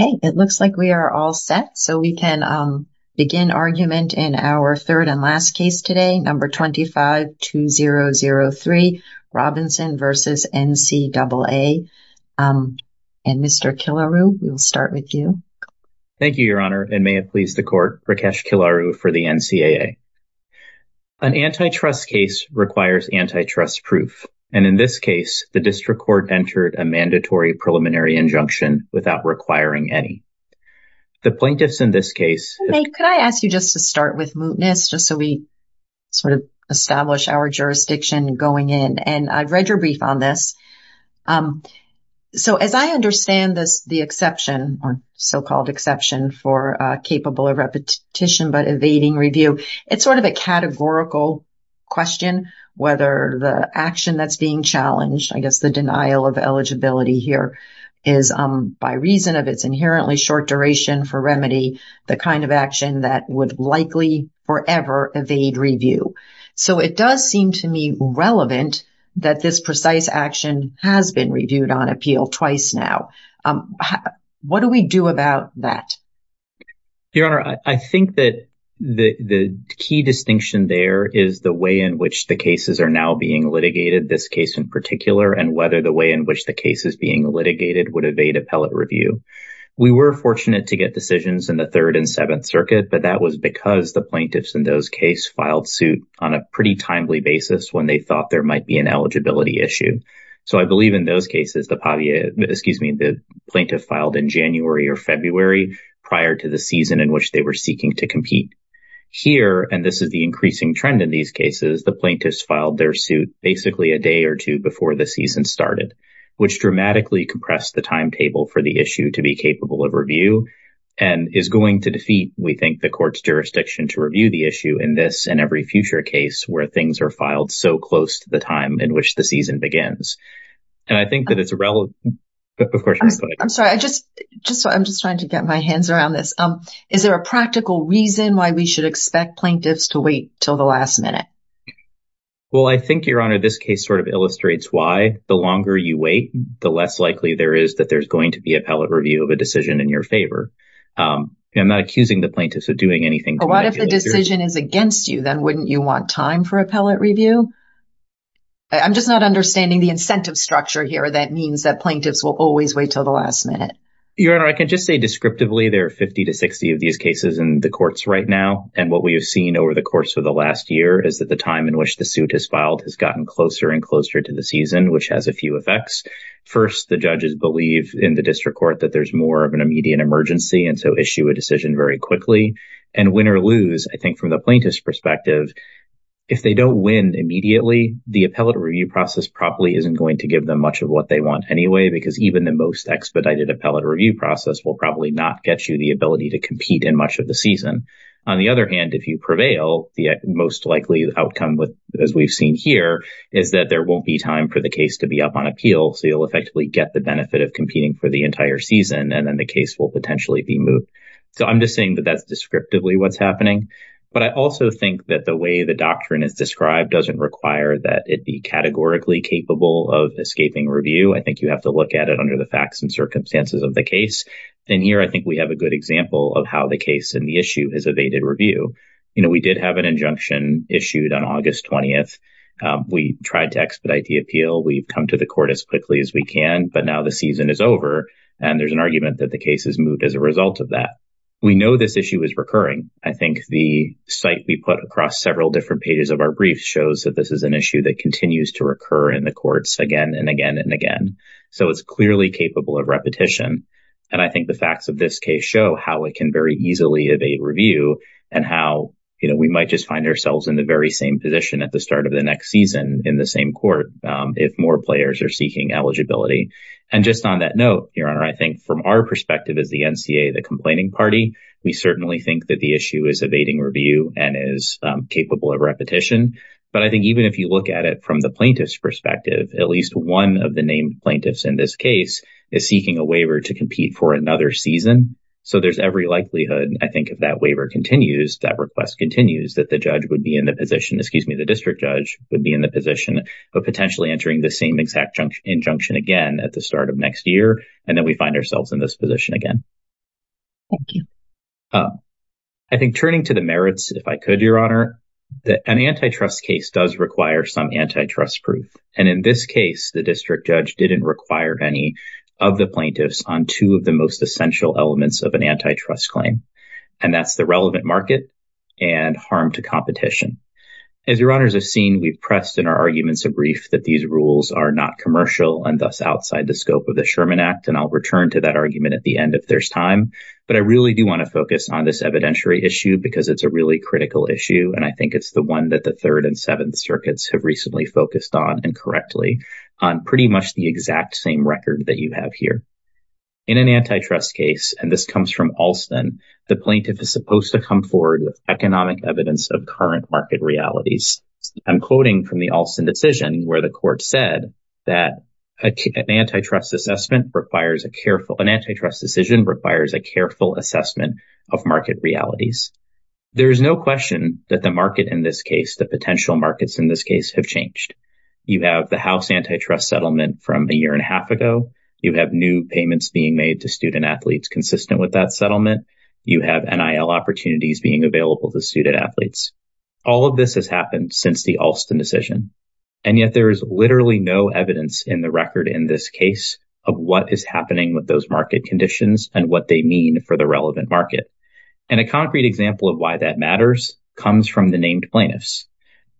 Okay, it looks like we are all set, so we can begin argument in our third and last case today, number 25-2003, Robinson v. NCAA. And Mr. Kilaru, we'll start with you. Thank you, Your Honor, and may it please the Court, Rakesh Kilaru for the NCAA. An antitrust case requires antitrust proof, and in this case, the District Court entered a mandatory preliminary injunction without requiring any. The plaintiffs in this case May, could I ask you just to start with mootness, just so we sort of establish our jurisdiction going in, and I've read your brief on this. So, as I understand this, the exception, or so-called exception for capable of repetition but evading review, it's sort of a categorical question, whether the action that's being challenged, I guess the denial of eligibility here, is by reason of its inherently short duration for remedy, the kind of action that would likely forever evade review. So, it does seem to me relevant that this precise action has been reviewed on appeal twice now. What do we do about that? Your Honor, I think that the key distinction there is the way in which the cases are now being litigated, this case in particular, and whether the way in which the case is being litigated would evade appellate review. We were fortunate to get decisions in the Third and Seventh Circuit, but that was because the plaintiffs in those cases filed suit on a pretty timely basis when they thought there might be an eligibility issue. So, I believe in those cases, the plaintiff filed in January or February prior to the season in which they were seeking to compete. Here, and this is the increasing trend in these cases, the plaintiffs filed their suit basically a day or two before the season started, which dramatically compressed the timetable for the issue to be capable of review and is going to defeat, we think, the court's jurisdiction to review the issue in this and every future case where things are filed so close to the time in which the season begins. And I think that it's relevant. I'm sorry, I'm just trying to get my hands around this. Is there a practical reason why we should expect plaintiffs to wait till the last minute? Well, I think, Your Honor, this case sort of illustrates why the longer you wait, the less likely there is that there's going to be appellate review of a decision in your favor. I'm not accusing the plaintiffs of doing anything. What if the decision is against you? Then wouldn't you want time for appellate review? I'm just not understanding the incentive structure here that means that plaintiffs will always wait till the last minute. Your Honor, I can just say descriptively there are 50 to 60 of these cases in the courts right now. And what we have seen over the course of the last year is that the time in which the suit is filed has gotten closer and closer to the season, which has a few effects. First, the judges believe in the district court that there's more of an immediate emergency, and so issue a decision very quickly. And win or lose, I think from the plaintiff's perspective, if they don't win immediately, the appellate review process probably isn't going to give them much of what they want anyway, because even the most expedited appellate review process will probably not get you the ability to compete in much of the season. On the other hand, if you prevail, the most likely outcome, as we've seen here, is that there won't be time for the case to be up on appeal. So you'll effectively get the benefit of competing for the entire season, and then the case will potentially be moved. So I'm just saying that that's descriptively what's happening. But I also think that the way the doctrine is described doesn't require that it be categorically capable of escaping review. I think you have to look at it under the facts and circumstances of the case. And here, I think we have a good example of how the case and the issue has evaded review. You know, we did have an injunction issued on August 20th. We tried to expedite the appeal. We've come to the court as quickly as we can, but now the season is over. And there's an argument that the case has moved as a result of that. We know this issue is recurring. I think the site we put across several different pages of our brief shows that this is an issue that continues to recur in the courts again and again and again. So it's clearly capable of repetition. And I think the facts of this case show how it can very easily evade review and how, you know, we might just find ourselves in the very same position at the start of the next season in the same court if more players are seeking eligibility. And just on that note, Your Honor, I think from our perspective as the NCA, the complaining party, we certainly think that the issue is evading review and is capable of repetition. But I think even if you look at it from the plaintiff's perspective, at least one of the named plaintiffs in this case is seeking a waiver to compete for another season. So there's every likelihood, I think, if that waiver continues, that request continues, that the judge would be in the position, excuse me, the district judge would be in the position of potentially entering the same exact injunction again at the start of next year. And then we find ourselves in this position again. Thank you. I think turning to the merits, if I could, Your Honor, an antitrust case does require some antitrust proof. And in this case, the district judge didn't require any of the plaintiffs on two of the most essential elements of an antitrust claim. And that's the relevant market and harm to competition. As Your Honors have seen, we've pressed in our arguments a brief that these rules are not commercial and thus outside the scope of the Sherman Act. And I'll return to that argument at the end if there's time. But I really do want to focus on this evidentiary issue because it's a really critical issue. And I think it's the one that the Third and Seventh Circuits have recently focused on incorrectly on pretty much the exact same record that you have here. In an antitrust case, and this comes from Alston, the plaintiff is supposed to come forward with economic evidence of current market realities. I'm quoting from the Alston decision where the court said that an antitrust assessment requires a careful, an antitrust decision requires a careful assessment of market realities. There is no question that the market in this case, the potential markets in this case have changed. You have the house antitrust settlement from a year and a half ago. You have new payments being made to student athletes consistent with that settlement. You have NIL opportunities being available to student athletes. All of this has happened since the Alston decision. And yet there is literally no evidence in the record in this case of what is happening with those market conditions and what they mean for the relevant market. And a concrete example of why that matters comes from the named plaintiffs.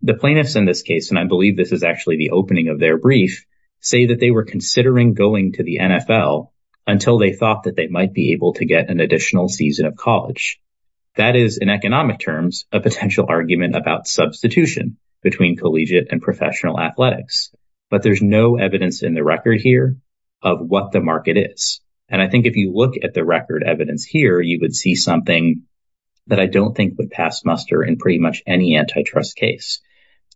The plaintiffs in this case, and I believe this is actually the opening of their brief, say that they were considering going to the NFL until they thought that they might be able to get an additional season of college. That is in economic terms, a potential argument about substitution between collegiate and professional athletics. But there's no evidence in the record here of what the market is. And I think if you look at the record evidence here, you would see something that I don't think would pass muster in pretty much any antitrust case.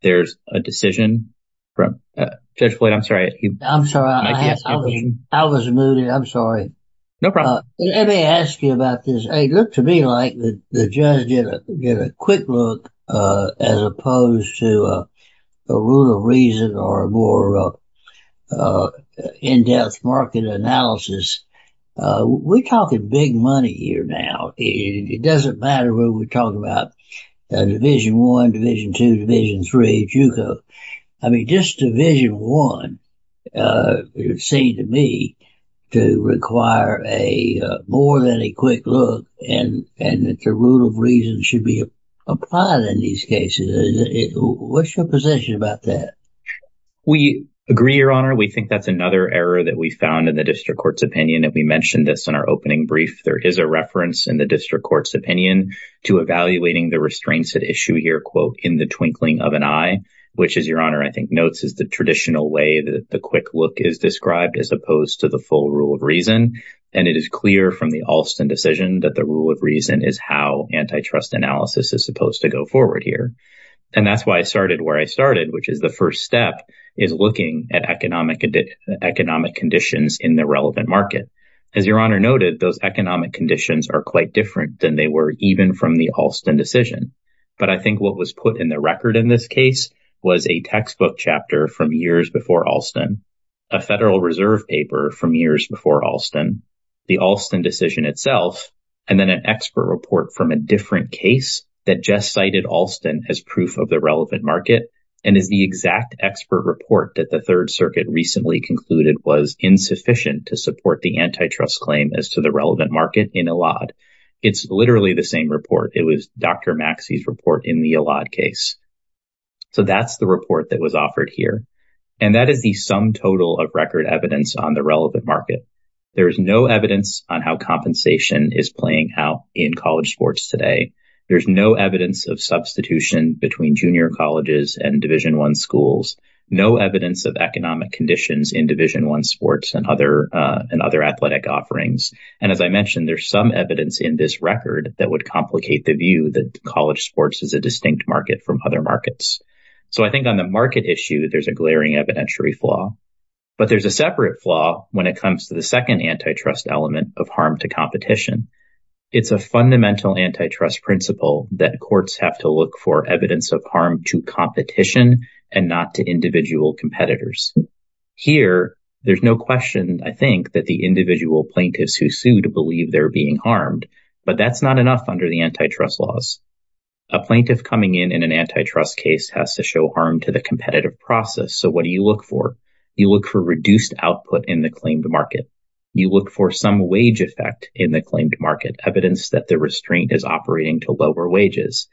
There's a decision from Judge Boyd. I'm sorry. I was mooted. I'm sorry. No problem. Let me ask you about this. It looked to me like the judge did a quick look as opposed to a rule of reason or a more in-depth market analysis. We're talking big money here now. It doesn't matter where we're talking about Division I, Division II, Division III, JUCO. I mean, just Division I, it seemed to me to require more than a quick look and that the rule of reason should be applied in these cases. What's your position about that? We agree, Your Honor. We think that's another error that we found in the district court's opinion. And we mentioned this in our opening brief. There is a reference in the district court's opinion to evaluating the restraints at issue here, quote, in the twinkling of an eye, which is, Your Honor, I think notes is the traditional way that the quick look is described as opposed to the full rule of reason. And it is clear from the Alston decision that the rule of reason is how antitrust analysis is supposed to go forward here. And that's why I started where I started, which is the first step is looking at economic conditions in the relevant market. As Your Honor noted, those economic conditions are quite different than they were even from the Alston decision. But I think what was put in the record in this case was a textbook chapter from years before Alston, a Federal Reserve paper from years before Alston, the Alston decision itself, and then an expert report from a different case that just cited Alston as proof of the relevant market and is the exact expert report that the Third Circuit recently concluded was insufficient to support the antitrust claim as to the relevant market in a lot. It's literally the same report. It was Dr. Maxey's report in the allot case. So that's the report that was offered here. And that is the sum total of record evidence on the relevant market. There is no evidence on how compensation is playing out in college sports today. There's no evidence of substitution between junior colleges and Division One schools, no evidence of economic conditions in Division One sports and other athletic offerings. And as I mentioned, there's some evidence in this record that would complicate the view that college sports is a distinct market from other markets. So I think on the market issue, there's a glaring evidentiary flaw. But there's a separate flaw when it comes to the second antitrust element of harm to competition. It's a fundamental antitrust principle that courts have to look for evidence of harm to competition and not to individual competitors. Here, there's no question, I think, that the individual plaintiffs who sued believe they're being harmed. But that's not enough under the antitrust laws. A plaintiff coming in in an antitrust case has to show harm to the competitive process. So what do you look for? You look for reduced output in the claimed market. You look for some wage effect in the claimed market, evidence that the restraint is operating to lower wages.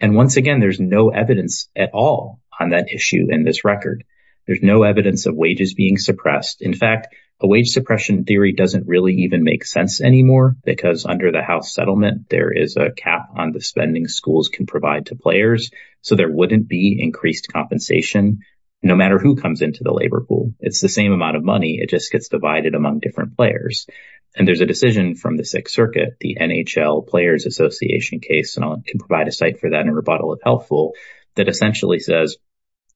And once again, there's no evidence at all on that issue in this record. There's no evidence of wages being suppressed. In fact, a wage suppression theory doesn't really even make sense anymore, because under the house settlement, there is a cap on the spending schools can provide to players. So there wouldn't be increased compensation, no matter who comes into the labor pool, it's the same amount of money, it just gets divided among different players. And there's a decision from the Sixth Circuit, the NHL Players Association case, and I can provide a site for that in rebuttal if helpful, that essentially says,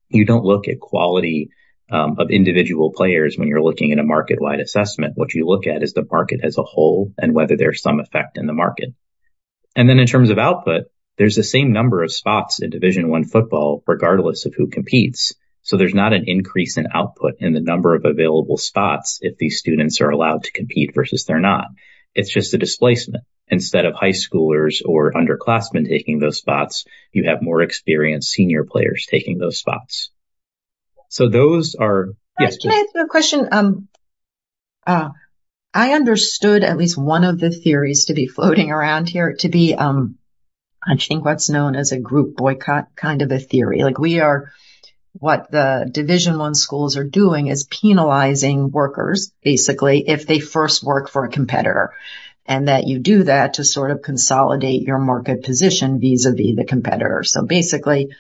you don't look at quality of individual players when you're looking at a market wide assessment, what you look at is the market as a whole, and whether there's some effect in the market. And then in terms of output, there's the same number of spots in Division One football, regardless of who competes. So there's not an increase in output in the number of available spots if these students are allowed to compete versus they're not. It's just a displacement. Instead of high schoolers or underclassmen taking those spots, you have more experienced senior players taking those spots. So those are... Can I ask you a question? I understood at least one of the theories to be floating around here to be, I think what's known as a group boycott kind of a theory, like we are, what the Division One schools are doing is penalizing workers, basically, if they first work for a competitor, and that you do that to sort of consolidate your market position vis-a-vis the competitors. So basically,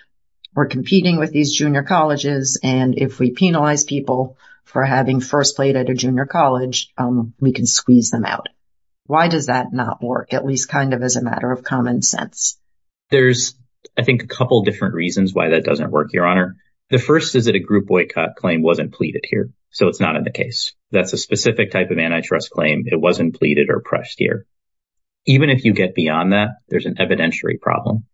we're competing with these junior colleges. And if we penalize people for having first played at a junior college, we can squeeze them out. Why does that not work, at least kind of as a matter of common sense? There's, I think, a couple of different reasons why that doesn't work, Your Honor. The first is that a group boycott claim wasn't pleaded here. So it's not in the case. That's a specific type of antitrust claim. It wasn't pleaded or pressed here. Even if you get beyond that, there's an evidentiary problem.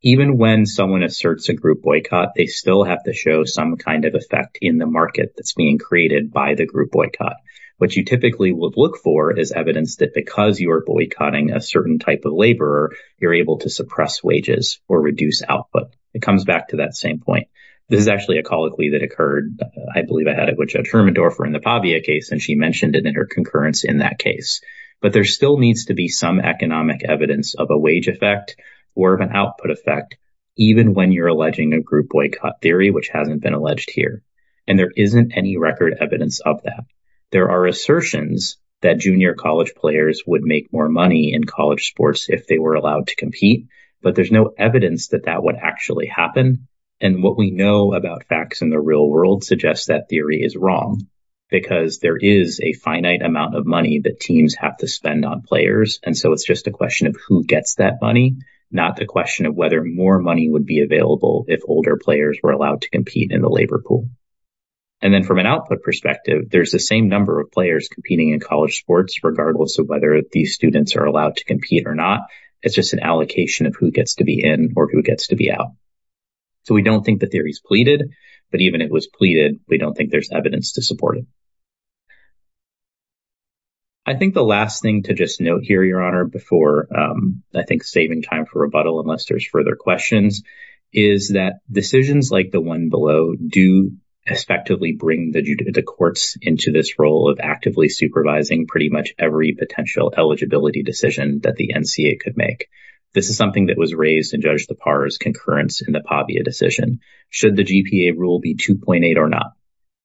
Even when someone asserts a group boycott, they still have to show some kind of effect in the market that's being created by the group boycott. What you typically would look for is evidence that because you are boycotting a certain type of labor, you're able to suppress wages or reduce output. It comes back to that same point. This is actually a colloquy that occurred, I believe I had it with Judge Hermendorfer in the Pavia case, and she mentioned it in her concurrence in that case. But there still needs to be some economic evidence of a wage effect or of an output effect, even when you're alleging a group boycott theory, which hasn't been alleged here. And there isn't any record evidence of that. There are assertions that junior college players would make more money in college sports if they were allowed to compete. But there's no evidence that that would actually happen. And what we know about facts in the real world suggests that theory is wrong, because there is a finite amount of money that teams have to spend on players. And so it's just a question of who gets that money, not the question of whether more money would be available if older players were allowed to compete in the same number of players competing in college sports, regardless of whether these students are allowed to compete or not. It's just an allocation of who gets to be in or who gets to be out. So we don't think the theory is pleaded, but even if it was pleaded, we don't think there's evidence to support it. I think the last thing to just note here, Your Honor, before I think saving time for rebuttal unless there's further questions, is that decisions like the one below do effectively bring the courts into this role of actively supervising pretty much every potential eligibility decision that the NCA could make. This is something that was raised in Judge Lepar's concurrence in the Pavia decision. Should the GPA rule be 2.8 or not?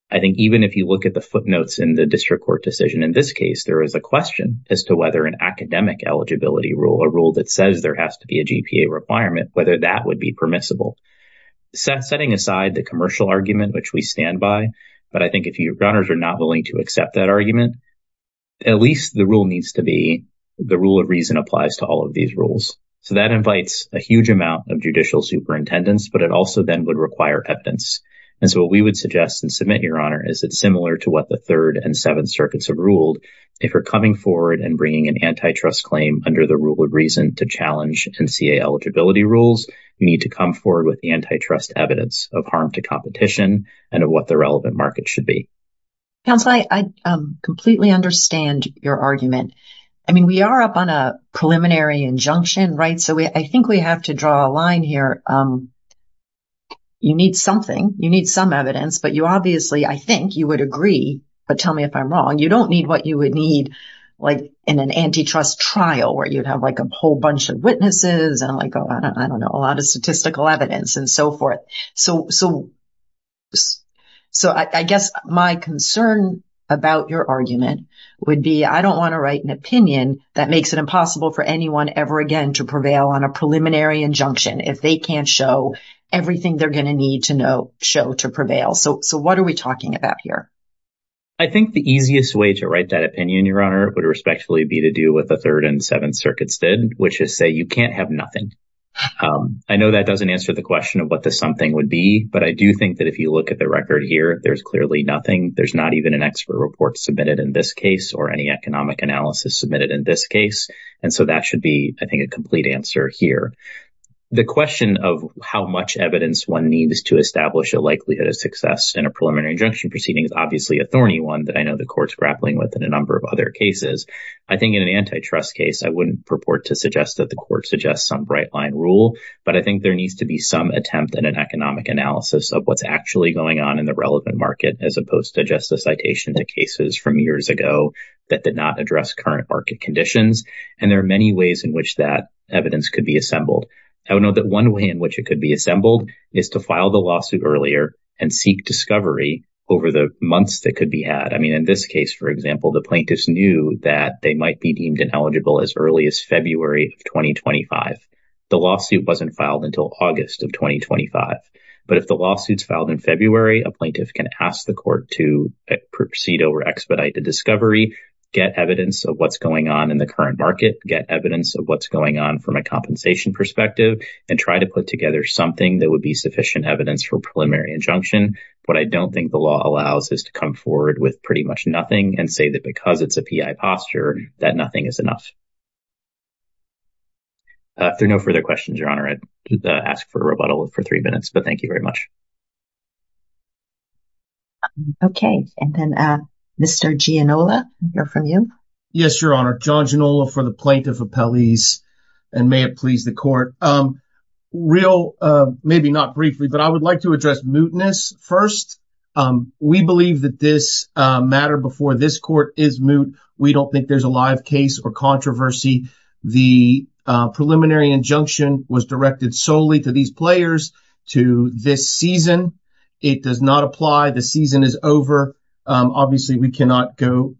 I think even if you look at the footnotes in the district court decision in this case, there is a question as to whether an academic eligibility rule, a rule that says there has to be a GPA requirement, whether that would be permissible. Setting aside the commercial argument, which we stand by, but I think if Your Honors are not willing to accept that argument, at least the rule needs to be the rule of reason applies to all of these rules. So that invites a huge amount of judicial superintendents, but it also then would require evidence. And so what we would suggest and submit, Your Honor, is that similar to what the Third and Seventh Circuits have ruled, if we're coming forward and bringing an antitrust claim under the rule of reason to challenge NCA eligibility rules, you need to come forward with the antitrust evidence of harm to competition and of what the relevant market should be. Counsel, I completely understand your argument. I mean, we are up on a preliminary injunction, right? So I think we have to draw a line here. You need something, you need some evidence, but you obviously, I think you would agree, but tell me if I'm wrong. You don't need what you need, like in an antitrust trial where you'd have like a whole bunch of witnesses and like, I don't know, a lot of statistical evidence and so forth. So I guess my concern about your argument would be I don't want to write an opinion that makes it impossible for anyone ever again to prevail on a preliminary injunction if they can't show everything they're going to need to know, show to prevail. So what are we talking about here? I think the easiest way to write that opinion, Your Honor, would respectfully be to do with the third and seventh circuits did, which is say you can't have nothing. I know that doesn't answer the question of what the something would be, but I do think that if you look at the record here, there's clearly nothing. There's not even an expert report submitted in this case or any economic analysis submitted in this case. And so that should be, I think, a complete answer here. The question of how much evidence one needs to establish a likelihood of success in a preliminary injunction proceeding is obviously a thorny one that I know the court's grappling with in a number of other cases. I think in an antitrust case, I wouldn't purport to suggest that the court suggests some bright line rule, but I think there needs to be some attempt in an economic analysis of what's actually going on in the relevant market as opposed to just a citation to cases from years ago that did not address current market conditions. And there are many ways in which that evidence could be assembled. I would know that one way in which it could be assembled is to file the lawsuit earlier and seek discovery over the months that could be had. I mean, in this case, for example, the plaintiffs knew that they might be deemed ineligible as early as February of 2025. The lawsuit wasn't filed until August of 2025. But if the lawsuit's filed in February, a plaintiff can ask the court to proceed over expedited discovery, get evidence of what's going on in the current market, get evidence of what's going on from a compensation perspective, and try to put together something that would be sufficient evidence for preliminary injunction. What I don't think the law allows is to come forward with pretty much nothing and say that because it's a P.I. posture, that nothing is enough. If there are no further questions, Your Honor, I'd ask for a rebuttal for three minutes, but thank you very much. Okay. And then Mr. Giannola, we'll hear from you. Yes, Your Honor. John Giannola for the plaintiff appellees, and may it please the court. Real, maybe not briefly, but I would like to address mootness first. We believe that this matter before this court is moot. We don't think there's a live case or controversy. The preliminary injunction was directed solely to these players, to this season. It does not apply. The season is over. Obviously, we cannot go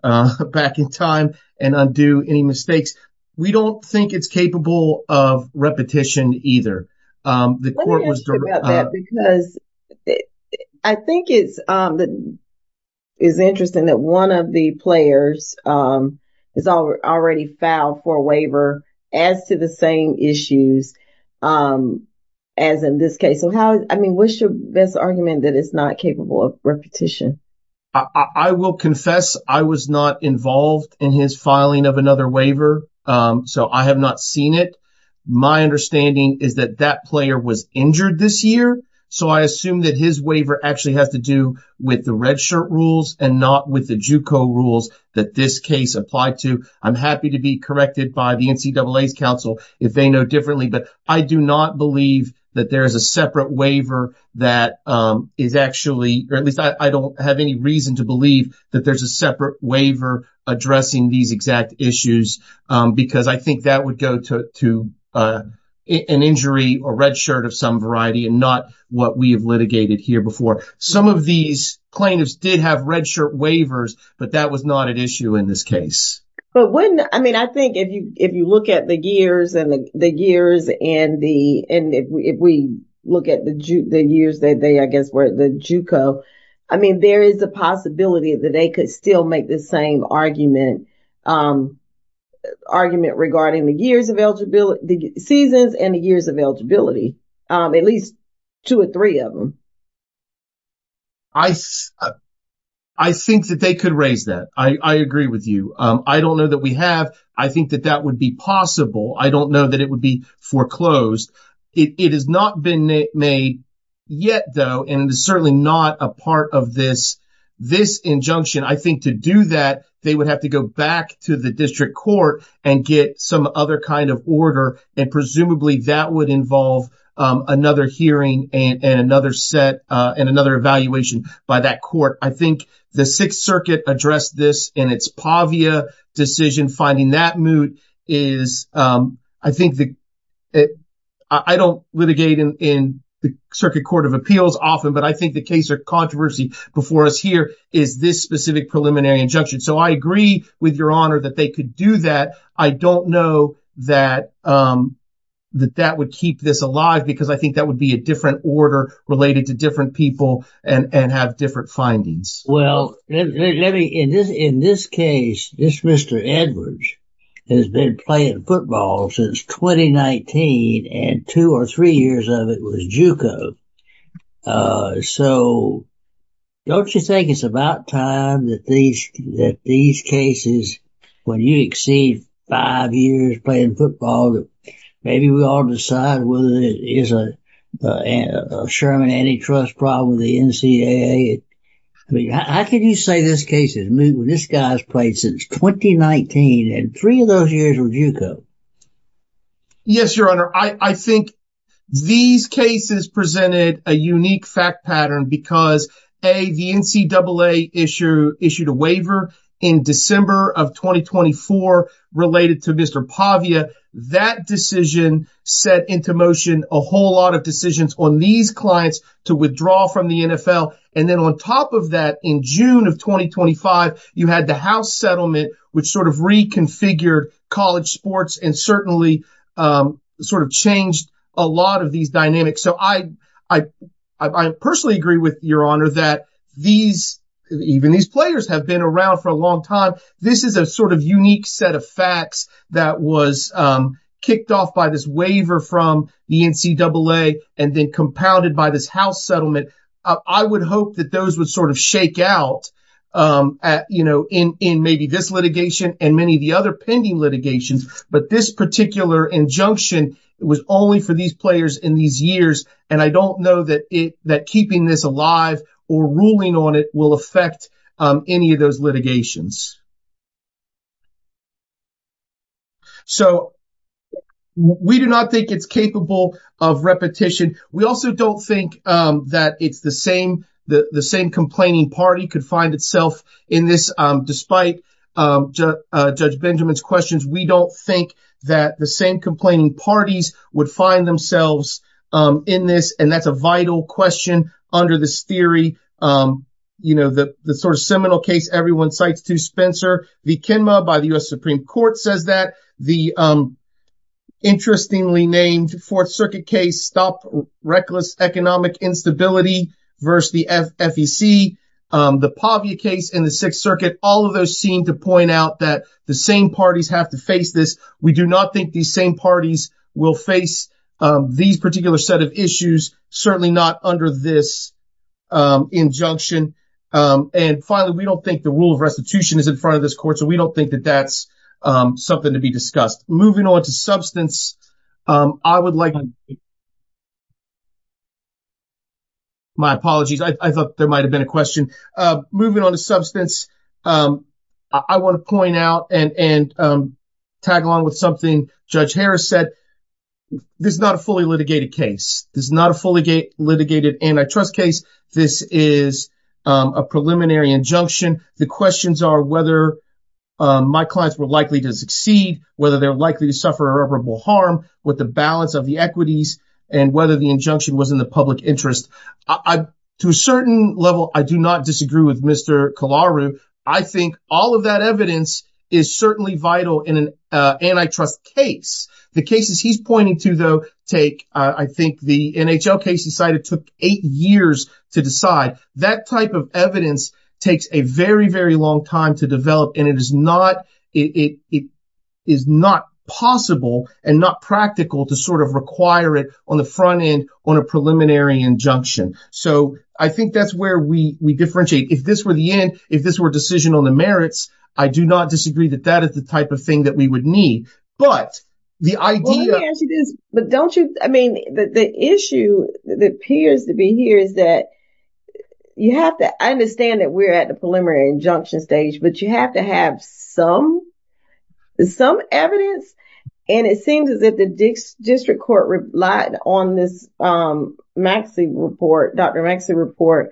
back in time and undo any mistakes. We don't think it's capable of repetition either. Let me ask you about that because I think it's interesting that one of the players has already filed for a waiver as to the same issues as in this case. So how, I mean, what's your best argument that it's not capable of repetition? I will confess I was not involved in his filing of another waiver. So I have not seen it. My understanding is that that player was injured this year. So I assume that his waiver actually has to do with the red shirt rules and not with the JUCO rules that this case applied to. I'm happy to be corrected by the NCAA's counsel if they know differently, but I do not believe that there's a separate waiver that is actually, or at least I don't have any reason to believe that there's a separate waiver addressing these exact issues because I think that would go to an injury or red shirt of some variety and not what we have litigated here before. Some of these plaintiffs did have red shirt waivers, but that was not an issue in this case. But when, I mean, I think if you look at the years and the years and the, and if we look at the years that they, I guess, were the JUCO, I mean, there is a possibility that they could still make the same argument regarding the years of eligibility, the seasons and the years of eligibility, at least two or three of them. I think that they could raise that. I agree with you. I don't know that we have. I think that that would be possible. I don't know that it would be foreclosed. It has not been made yet though, and it is certainly not a part of this, this injunction. I think to do that, they would have to go back to the district court and get some other kind of order. And presumably that would involve another hearing and another set and another evaluation by that court. I think the sixth circuit addressed this in its PAVIA decision. Finding that moot is, I think, I don't litigate in the circuit court of appeals often, but I think the case or controversy before us here is this specific preliminary injunction. So I agree with your honor that they could do that. I don't know that that would keep this alive because I think that would be a different order related to different people and have different findings. Well, in this case, this Mr. Edwards has been playing football since 2019, and two or three years of it was JUCO. So don't you think it's about time that these cases, when you exceed five years playing football, that maybe we all decide whether it is a Sherman antitrust problem with the NCAA? How can you say this case is moot when this guy's played since 2019 and three of those years were JUCO? Yes, your honor. I think these cases presented a unique fact pattern because A, the NCAA issued a waiver in December of 2024 related to Mr. PAVIA. That decision set into motion a whole lot of decisions on these clients to withdraw from the NFL. And then on top of that, in June of 2025, you had the house settlement, which sort of reconfigured college sports and certainly sort of changed a lot of these dynamics. So I personally agree with your honor that these, even these players have been around for a long time. This is a sort of unique set of facts that was kicked off by this waiver from the NCAA and then compounded by this house settlement. I would hope that those would sort of shake out, you know, in maybe this litigation and many of the other pending litigations. But this particular injunction was only for these players in these years. And I don't know that keeping this alive or ruling on it will affect any of those litigations. So we do not think it's capable of repetition. We also don't think that it's the same, the same complaining party could find itself in this despite Judge Benjamin's questions. We don't think that the same complaining parties would find themselves in this. And that's a vital question under this theory. You know, the sort of seminal case everyone cites to Spencer, the Kenma by the U.S. Supreme Court says that the interestingly named Fourth Circuit case, stop reckless economic instability versus the FEC, the Pavia case in the Sixth Circuit, all of those seem to point out that the same parties have to face this. We do not think these same parties will face these particular set of issues, certainly not under this injunction. And finally, we don't think the rule of restitution is in front of this court. So we don't think that that's something to be discussed. Moving on to substance, I would like to point out and tag along with something Judge Harris said. This is not a fully litigated case. This is not a fully litigated antitrust case. This is a preliminary injunction. The questions are whether my clients were likely to succeed, whether they're likely to suffer irreparable harm with the balance of the equity that I have. I don't think that's the case. I don't think and whether the injunction was in the public interest. To a certain level, I do not disagree with Mr. Kalaru. I think all of that evidence is certainly vital in an antitrust case. The cases he's pointing to, though, take I think the NHL case he cited took eight years to decide. That type of evidence takes a very, very long time to develop. And it is not possible and not practical to sort of require it on the front end on a preliminary injunction. So I think that's where we differentiate. If this were the end, if this were a decision on the merits, I do not disagree that that is the type of thing that we would need. But the idea is, but don't you I mean, the issue that appears to be here is that you have to understand that we're at the preliminary injunction stage, but you have to have some, some evidence. And it seems as if the district court relied on this Maxey report, Dr. Maxey report.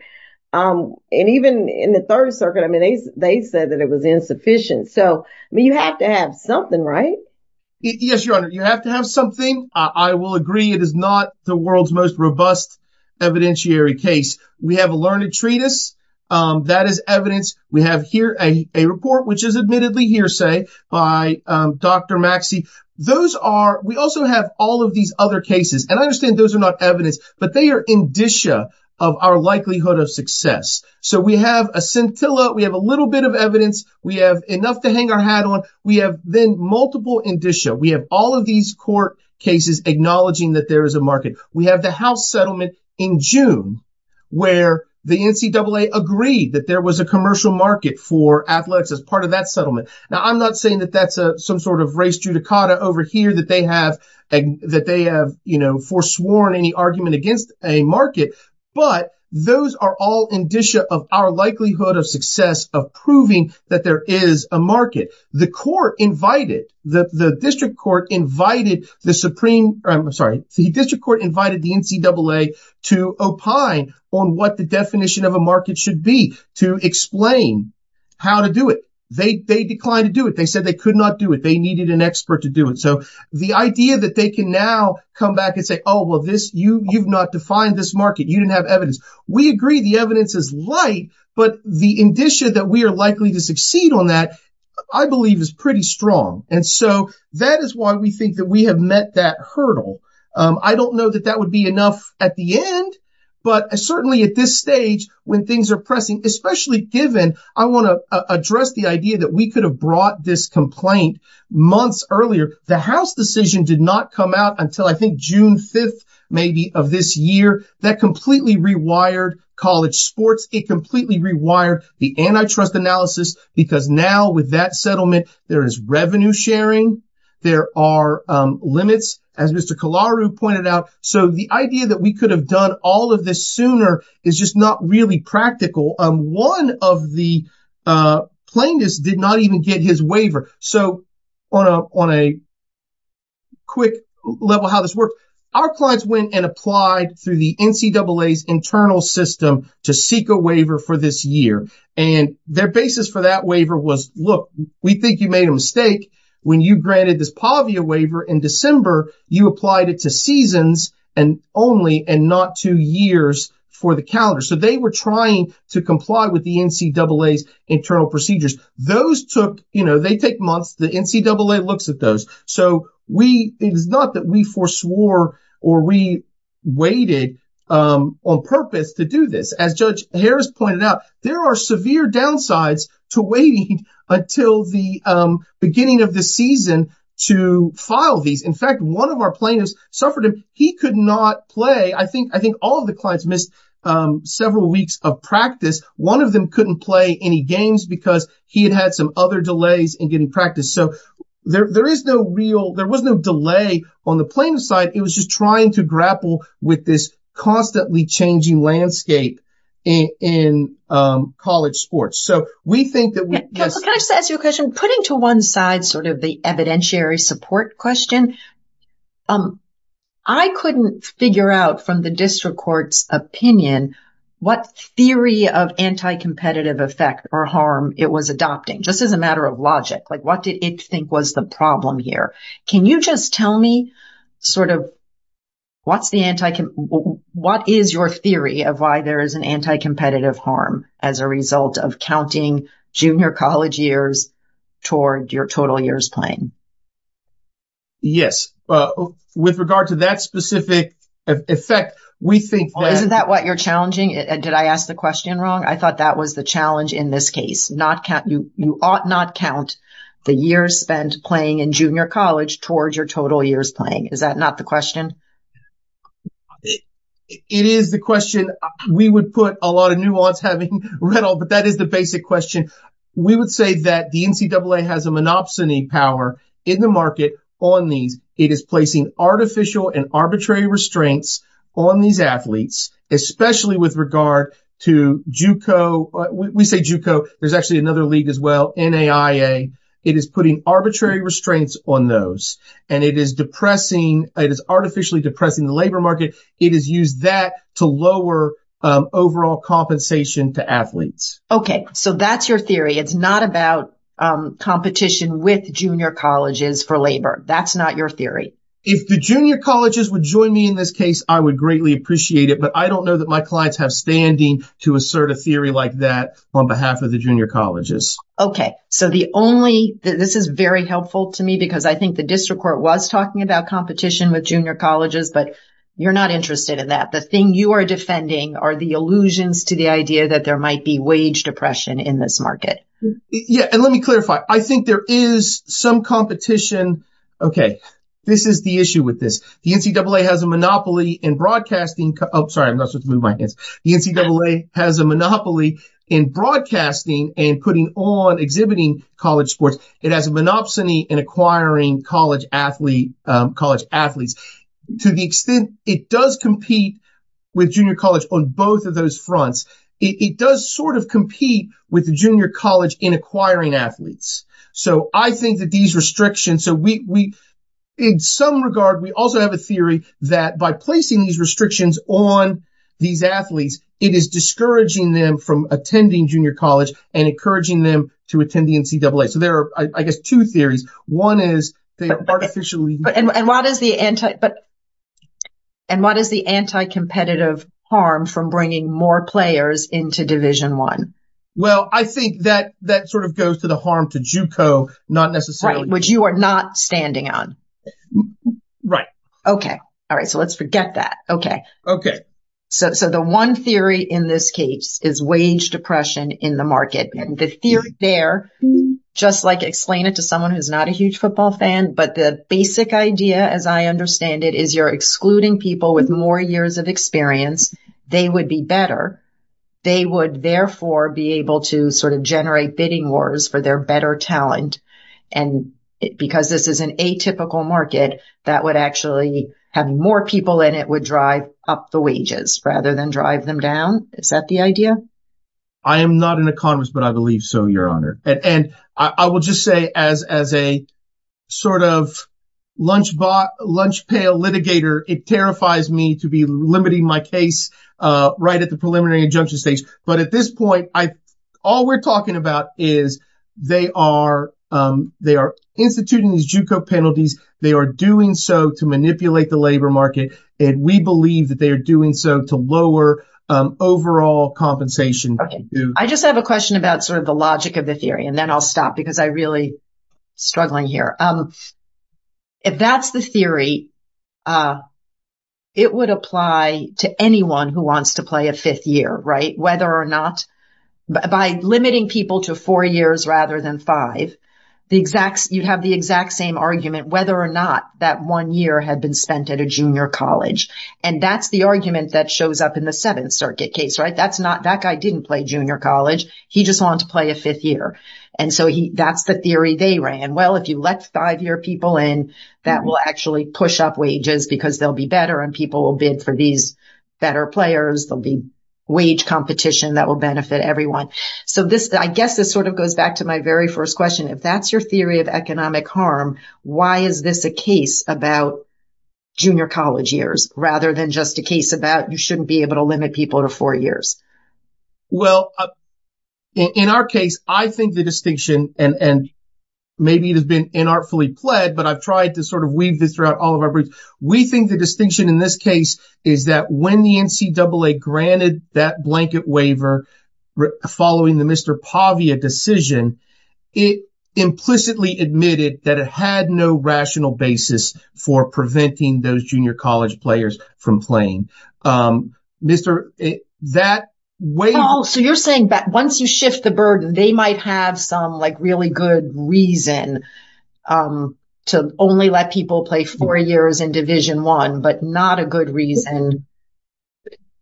And even in the Third Circuit, I mean, they said that it was insufficient. So you have to have something, right? Yes, Your Honor, you have to have something. I will agree it is not the world's most robust evidentiary case. We have a learned treatise that is evidence. We have here a report, which is admittedly hearsay by Dr. Maxey. Those are, we also have all of these other cases. And I understand those are not evidence, but they are indicia of our likelihood of success. So we have a scintilla, we have a little bit of evidence, we have enough to hang our hat on. We have then multiple indicia. We have all of these court cases acknowledging that there is a market. We have the house settlement in June where the NCAA agreed that there was a commercial market for athletics as part of that settlement. Now, I'm not saying that that's some sort of race judicata over here that they have, that they have, you know, foresworn any argument against a market, but those are all indicia of our likelihood of success of proving that there is a market. The court invited, the district court invited the supreme, I'm sorry, the district court invited the NCAA to opine on what the definition of a market should be to explain how to do it. They declined to do it. They said they could not do it. They needed an expert to do it. So the idea that they can now come back and say, oh, well, this, you've not defined this market. You didn't have evidence. We agree the evidence is light, but the indicia that we are likely to succeed on that, I believe is pretty strong. And so that is why we think that we have met that hurdle. I don't know that that would be enough at the end, but certainly at this stage when things are pressing, especially given I want to address the idea that we could have brought this complaint months earlier, the house decision did not come out until I think June 5th, maybe of this year that completely rewired college sports. It completely rewired the antitrust analysis because now with that settlement, there is revenue sharing. There are limits as Mr. Kalaru pointed out. So the idea that we could have done all of this sooner is just not really practical. One of the plaintiffs did not even get his waiver. So on a quick level how this worked, our clients went and applied through the NCAA's internal system to seek a waiver for this year. And their basis for that waiver was, look, we think you made a mistake when you granted this PAVIA waiver in December, you applied it to seasons and only and not two years for the calendar. So they were trying to comply with the NCAA's internal procedures. Those took, you know, they take months. The NCAA looks at those. So we, it is not that we foreswore or we waited on purpose to do this. As Judge Harris pointed out, there are severe downsides to waiting until the beginning of the season to file these. In fact, one of our plaintiffs suffered, he could not play. I think all of the clients missed several weeks of practice. One of them couldn't play any games because he had had some other delays in getting practice. So there is no real, there was no delay on the plaintiff's side. It was just trying to grapple with this constantly changing landscape in college sports. So we think that- Can I just ask you a question? Putting to one side sort of the evidentiary support question, I couldn't figure out from the district court's opinion what theory of anti-competitive effect or harm it was adopting, just as a matter of logic. Like what did it think was the problem here? Can you just tell me sort of what's the anti-competitive, what is your theory of why there is an anti-competitive harm as a result of counting junior college years toward your total years playing? Yes. With regard to that specific effect, we think that- Isn't that what you're challenging? Did I ask the question wrong? I thought that was the in this case. You ought not count the years spent playing in junior college towards your total years playing. Is that not the question? It is the question. We would put a lot of nuance having read all, but that is the basic question. We would say that the NCAA has a monopsony power in the market on these. It is placing artificial and arbitrary restraints on these athletes, especially with regard to JUCO. We say JUCO, there's actually another league as well, NAIA. It is putting arbitrary restraints on those, and it is artificially depressing the labor market. It is used that to lower overall compensation to athletes. Okay. So that's your theory. It's not about competition with junior colleges for labor. That's not your theory. If the junior colleges would join me in this case, I would greatly appreciate it, but I don't know that my clients have standing to assert a theory like that on behalf of the junior colleges. Okay. So the only, this is very helpful to me because I think the district court was talking about competition with junior colleges, but you're not interested in that. The thing you are defending are the illusions to the idea that there might be wage depression in this market. Yeah. And let me clarify. I think there is some competition. Okay. This is the issue with this. The NCAA has a monopoly in broadcasting. Oh, sorry. I'm not supposed to move my hands. The NCAA has a monopoly in broadcasting and putting on exhibiting college sports. It has a monopsony in acquiring college athletes. To the extent it does compete with junior college on both of those fronts, it does sort of compete with the junior college in acquiring athletes. So I think that these restrictions, so we, in some regard, we also have a theory that by placing these restrictions on these athletes, it is discouraging them from attending junior college and encouraging them to attend the NCAA. So there are, I guess, two theories. One is they artificially- And what is the anti-competitive harm from bringing more players into Division I? Well, I think that sort of goes to the harm to JUCO, not necessarily- Right. Which you are not standing on. Right. Okay. All right. So let's forget that. Okay. Okay. So the one theory in this case is wage depression in the market. And the theory there, just like explain it to someone who's not a huge football fan, but the basic idea, as I understand it, is you're excluding people with more years of experience. They would be better. They would therefore be able to sort of generate bidding wars for their better talent. And because this is an atypical market, that would actually have more people in it would drive up the wages rather than drive them down. Is that the idea? I am not an economist, but I believe so, Your Honor. And I will just say as a sort of lunch-pail litigator, it terrifies me to be limiting my case right at the preliminary injunction stage. But at this point, all we're talking about is they are instituting these JUCO penalties. They are doing so to manipulate the labor market. And we believe that they are doing so to lower overall compensation. Okay. I just have a question about sort of the logic of the theory. And then I'll stop because I'm really struggling here. If that's the theory, it would apply to anyone who wants to play a fifth year, right? By limiting people to four years rather than five, you'd have the exact same argument whether or not that one year had been spent at a junior college. And that's the argument that shows up in the Seventh Circuit case, right? That guy didn't play junior college. He just wanted to play a fifth year. And so that's the theory they ran. Well, if you let five-year people in, that will actually push up wages because they'll be better and people will bid for these better players. There'll be wage competition that will benefit everyone. So I guess this sort of goes back to my very first question. If that's your theory of economic harm, why is this a case about junior college years rather than just a case about you able to limit people to four years? Well, in our case, I think the distinction and maybe it has been inartfully pled, but I've tried to sort of weave this throughout all of our briefs. We think the distinction in this case is that when the NCAA granted that blanket waiver following the Mr. Pavia decision, it implicitly admitted that it had no rational basis for preventing those junior college players from playing. So you're saying that once you shift the burden, they might have some like really good reason to only let people play four years in Division I, but not a good reason.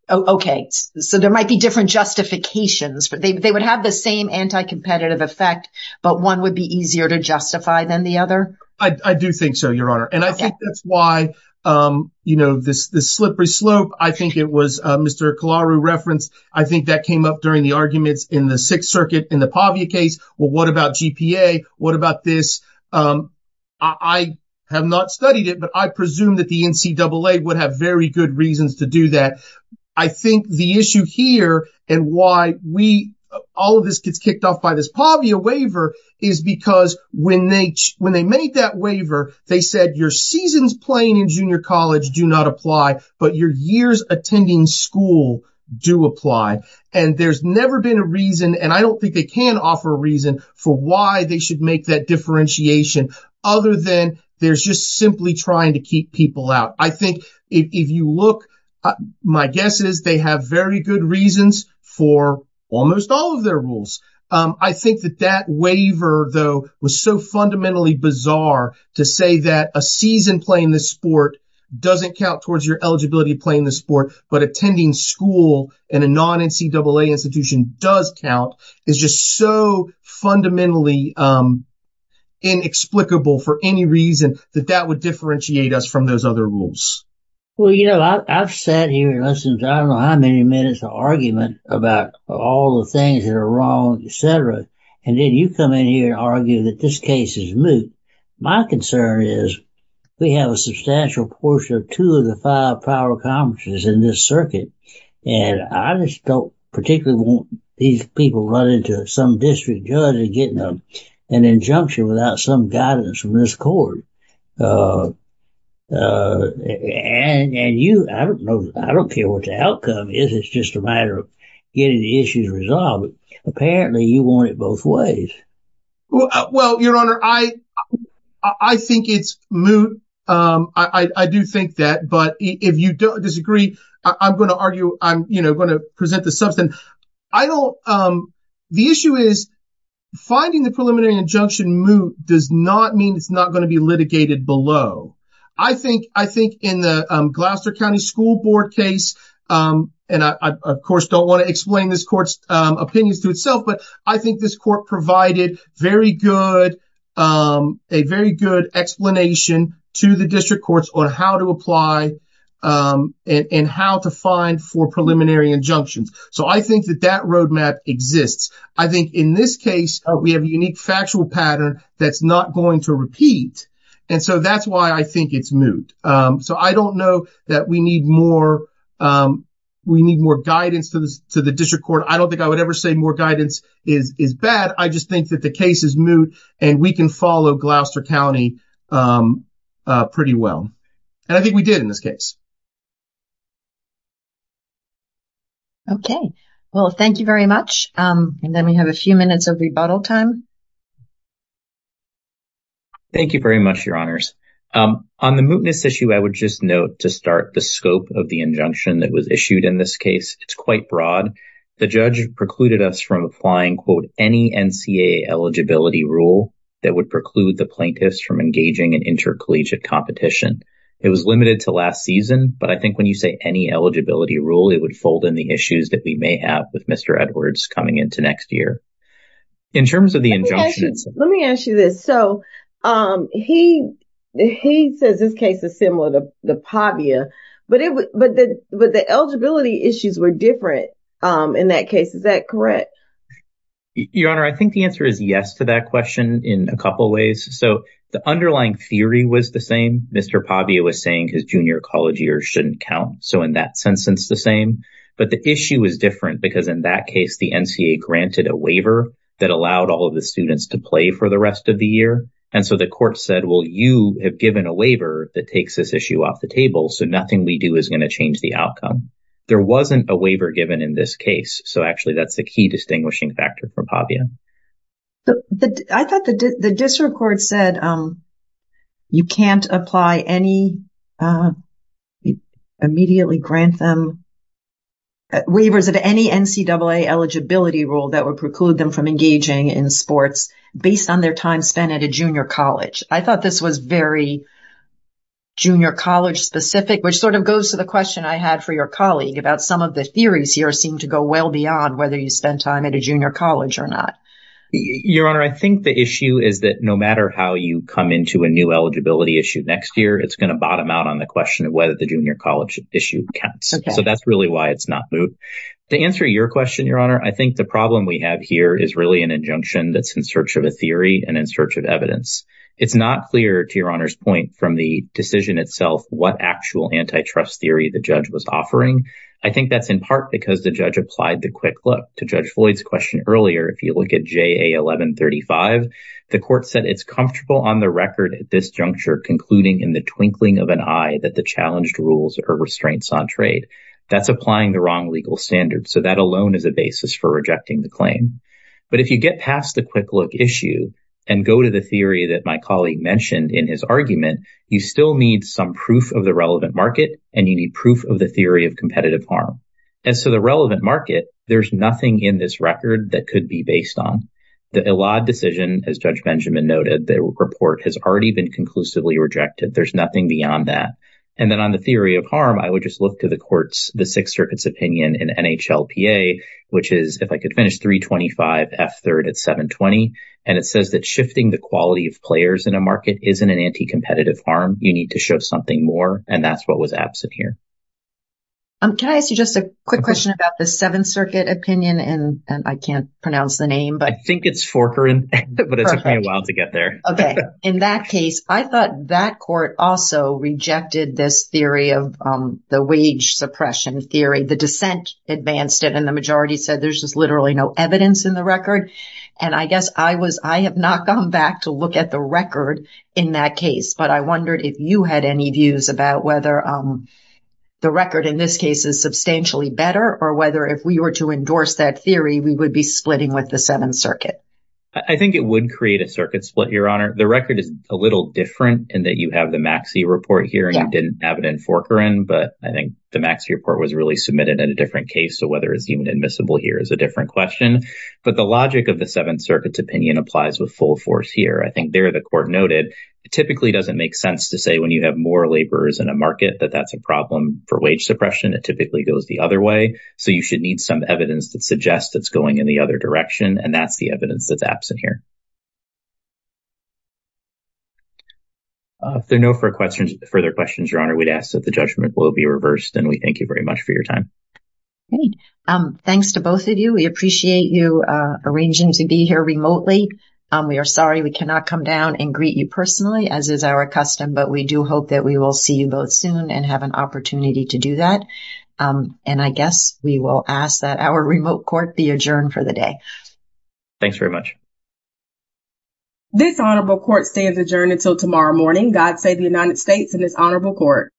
Okay. So there might be different justifications. They would have the same anti-competitive effect, but one would be easier to justify than the other? I do think so, Your I think I'm going to use this as an example. I don't know why, you know, this slippery slope, I think it was Mr. Kehlaru referenced. I think that came up during the arguments in the Sixth Circuit in the Pavia case. Well, what about GPA? What about this? I have not studied it, but I presume that the NCAA would have very good reasons to do that. I think the issue here and why we all of this gets when they made that waiver, they said your seasons playing in junior college do not apply, but your years attending school do apply. And there's never been a reason, and I don't think they can offer a reason for why they should make that differentiation, other than there's just simply trying to keep people out. I think if you look, my guess is they have very good reasons for almost all of their rules. I think that that waiver, though, was so fundamentally bizarre to say that a season playing this sport doesn't count towards your eligibility playing the sport, but attending school in a non-NCAA institution does count, is just so fundamentally inexplicable for any reason that that would differentiate us from those other rules. Well, you know, I've sat here and listened to I don't know how many minutes of argument about all the things that are wrong, etc., and then you come in here and argue that this case is moot. My concern is we have a substantial portion of two of the five power conferences in this circuit, and I just don't particularly want these people running to some district judge and getting an injunction without some guidance from this court. And you, I don't know, I don't care what the outcome is. It's just a matter of getting the issues resolved. Apparently, you want it both ways. Well, Your Honor, I think it's moot. I do think that, but if you disagree, I'm going to argue, I'm going to present the substance. The issue is finding the preliminary injunction moot does not mean it's not going to be litigated below. I think in the Gloucester County School Board case, and I, of course, don't want to explain this court's opinions to itself, but I think this court provided very good, a very good explanation to the district courts on how to apply and how to for preliminary injunctions. So I think that that roadmap exists. I think in this case, we have a unique factual pattern that's not going to repeat. And so that's why I think it's moot. So I don't know that we need more guidance to the district court. I don't think I would ever say more guidance is bad. I just think that the case is moot and we can follow Gloucester County pretty well. And I think we did in this case. Okay. Well, thank you very much. And then we have a few minutes of rebuttal time. Thank you very much, Your Honors. On the mootness issue, I would just note to start the scope of the injunction that was issued in this case. It's quite broad. The judge precluded us from applying, quote, any NCAA eligibility rule that would preclude the plaintiffs from engaging in intercollegiate competition. It was limited to last season, but I think when you say any eligibility rule, it would fold in the issues that we may have with Mr. Edwards coming into next year. In terms of the injunction. Let me ask you this. So he says this case is similar to the Pavia, but the eligibility issues were different in that case. Is that correct? Your Honor, I think the answer is yes to that question in a couple of ways. So the underlying theory was the same. Mr. Pavia was saying his junior college years shouldn't count. So in that sense, it's the same. But the issue is different because in that case, the NCAA granted a waiver that allowed all of the students to play for the rest of the year. And so the court said, well, you have given a waiver that takes this issue off the table. So nothing we do is going to change the outcome. There wasn't a waiver given in this case. So actually, that's the key distinguishing factor for Pavia. But I thought the district court said you can't apply any immediately grant them waivers of any NCAA eligibility rule that would preclude them from engaging in sports based on their time spent at a junior college. I thought this was very junior college specific, which sort of goes to the question I had for your colleague about some of the theories here seem to well beyond whether you spend time at a junior college or not. Your Honor, I think the issue is that no matter how you come into a new eligibility issue next year, it's going to bottom out on the question of whether the junior college issue counts. So that's really why it's not moot. To answer your question, Your Honor, I think the problem we have here is really an injunction that's in search of a theory and in search of evidence. It's not clear to Your Honor's point from the decision itself what actual antitrust theory the judge was offering. I think that's in part because the judge applied the quick look to Judge Floyd's question earlier. If you look at JA 1135, the court said it's comfortable on the record at this juncture concluding in the twinkling of an eye that the challenged rules are restraints on trade. That's applying the wrong legal standards. So that alone is a basis for rejecting the claim. But if you get past the quick look issue and go to the theory that my colleague mentioned in his argument, you still need some proof of the relevant market and you need proof of the harm. And so the relevant market, there's nothing in this record that could be based on. The Elad decision, as Judge Benjamin noted, the report has already been conclusively rejected. There's nothing beyond that. And then on the theory of harm, I would just look to the court's, the Sixth Circuit's opinion in NHLPA, which is if I could finish 325 F third at 720. And it says that shifting the quality of players in a market isn't an anti-competitive harm. You need to show something more. And that's what was absent here. Um, can I ask you just a quick question about the Seventh Circuit opinion? And I can't pronounce the name, but I think it's Forker, but it took me a while to get there. Okay. In that case, I thought that court also rejected this theory of the wage suppression theory. The dissent advanced it and the majority said there's just literally no evidence in the record. And I guess I was, I have not gone back to look at the record in that case, but I wondered if you had any views about whether the record in this case is substantially better or whether if we were to endorse that theory, we would be splitting with the Seventh Circuit. I think it would create a circuit split, Your Honor. The record is a little different in that you have the Maxey report here and you didn't have it in Forker. But I think the Maxey report was really submitted in a different case. So whether it's even admissible here is a different question. But the logic of the Seventh Circuit's opinion applies with full force here. I think the court noted it typically doesn't make sense to say when you have more laborers in a market that that's a problem for wage suppression. It typically goes the other way. So you should need some evidence that suggests it's going in the other direction. And that's the evidence that's absent here. If there are no further questions, Your Honor, we'd ask that the judgment will be reversed. And we thank you very much for your time. Great. Thanks to both of you. We appreciate you arranging to be here remotely. We are sorry we cannot come down and greet you personally as is our custom. But we do hope that we will see you both soon and have an opportunity to do that. And I guess we will ask that our remote court be adjourned for the day. Thanks very much. This honorable court stands adjourned until tomorrow morning. God save the United States and this honorable court.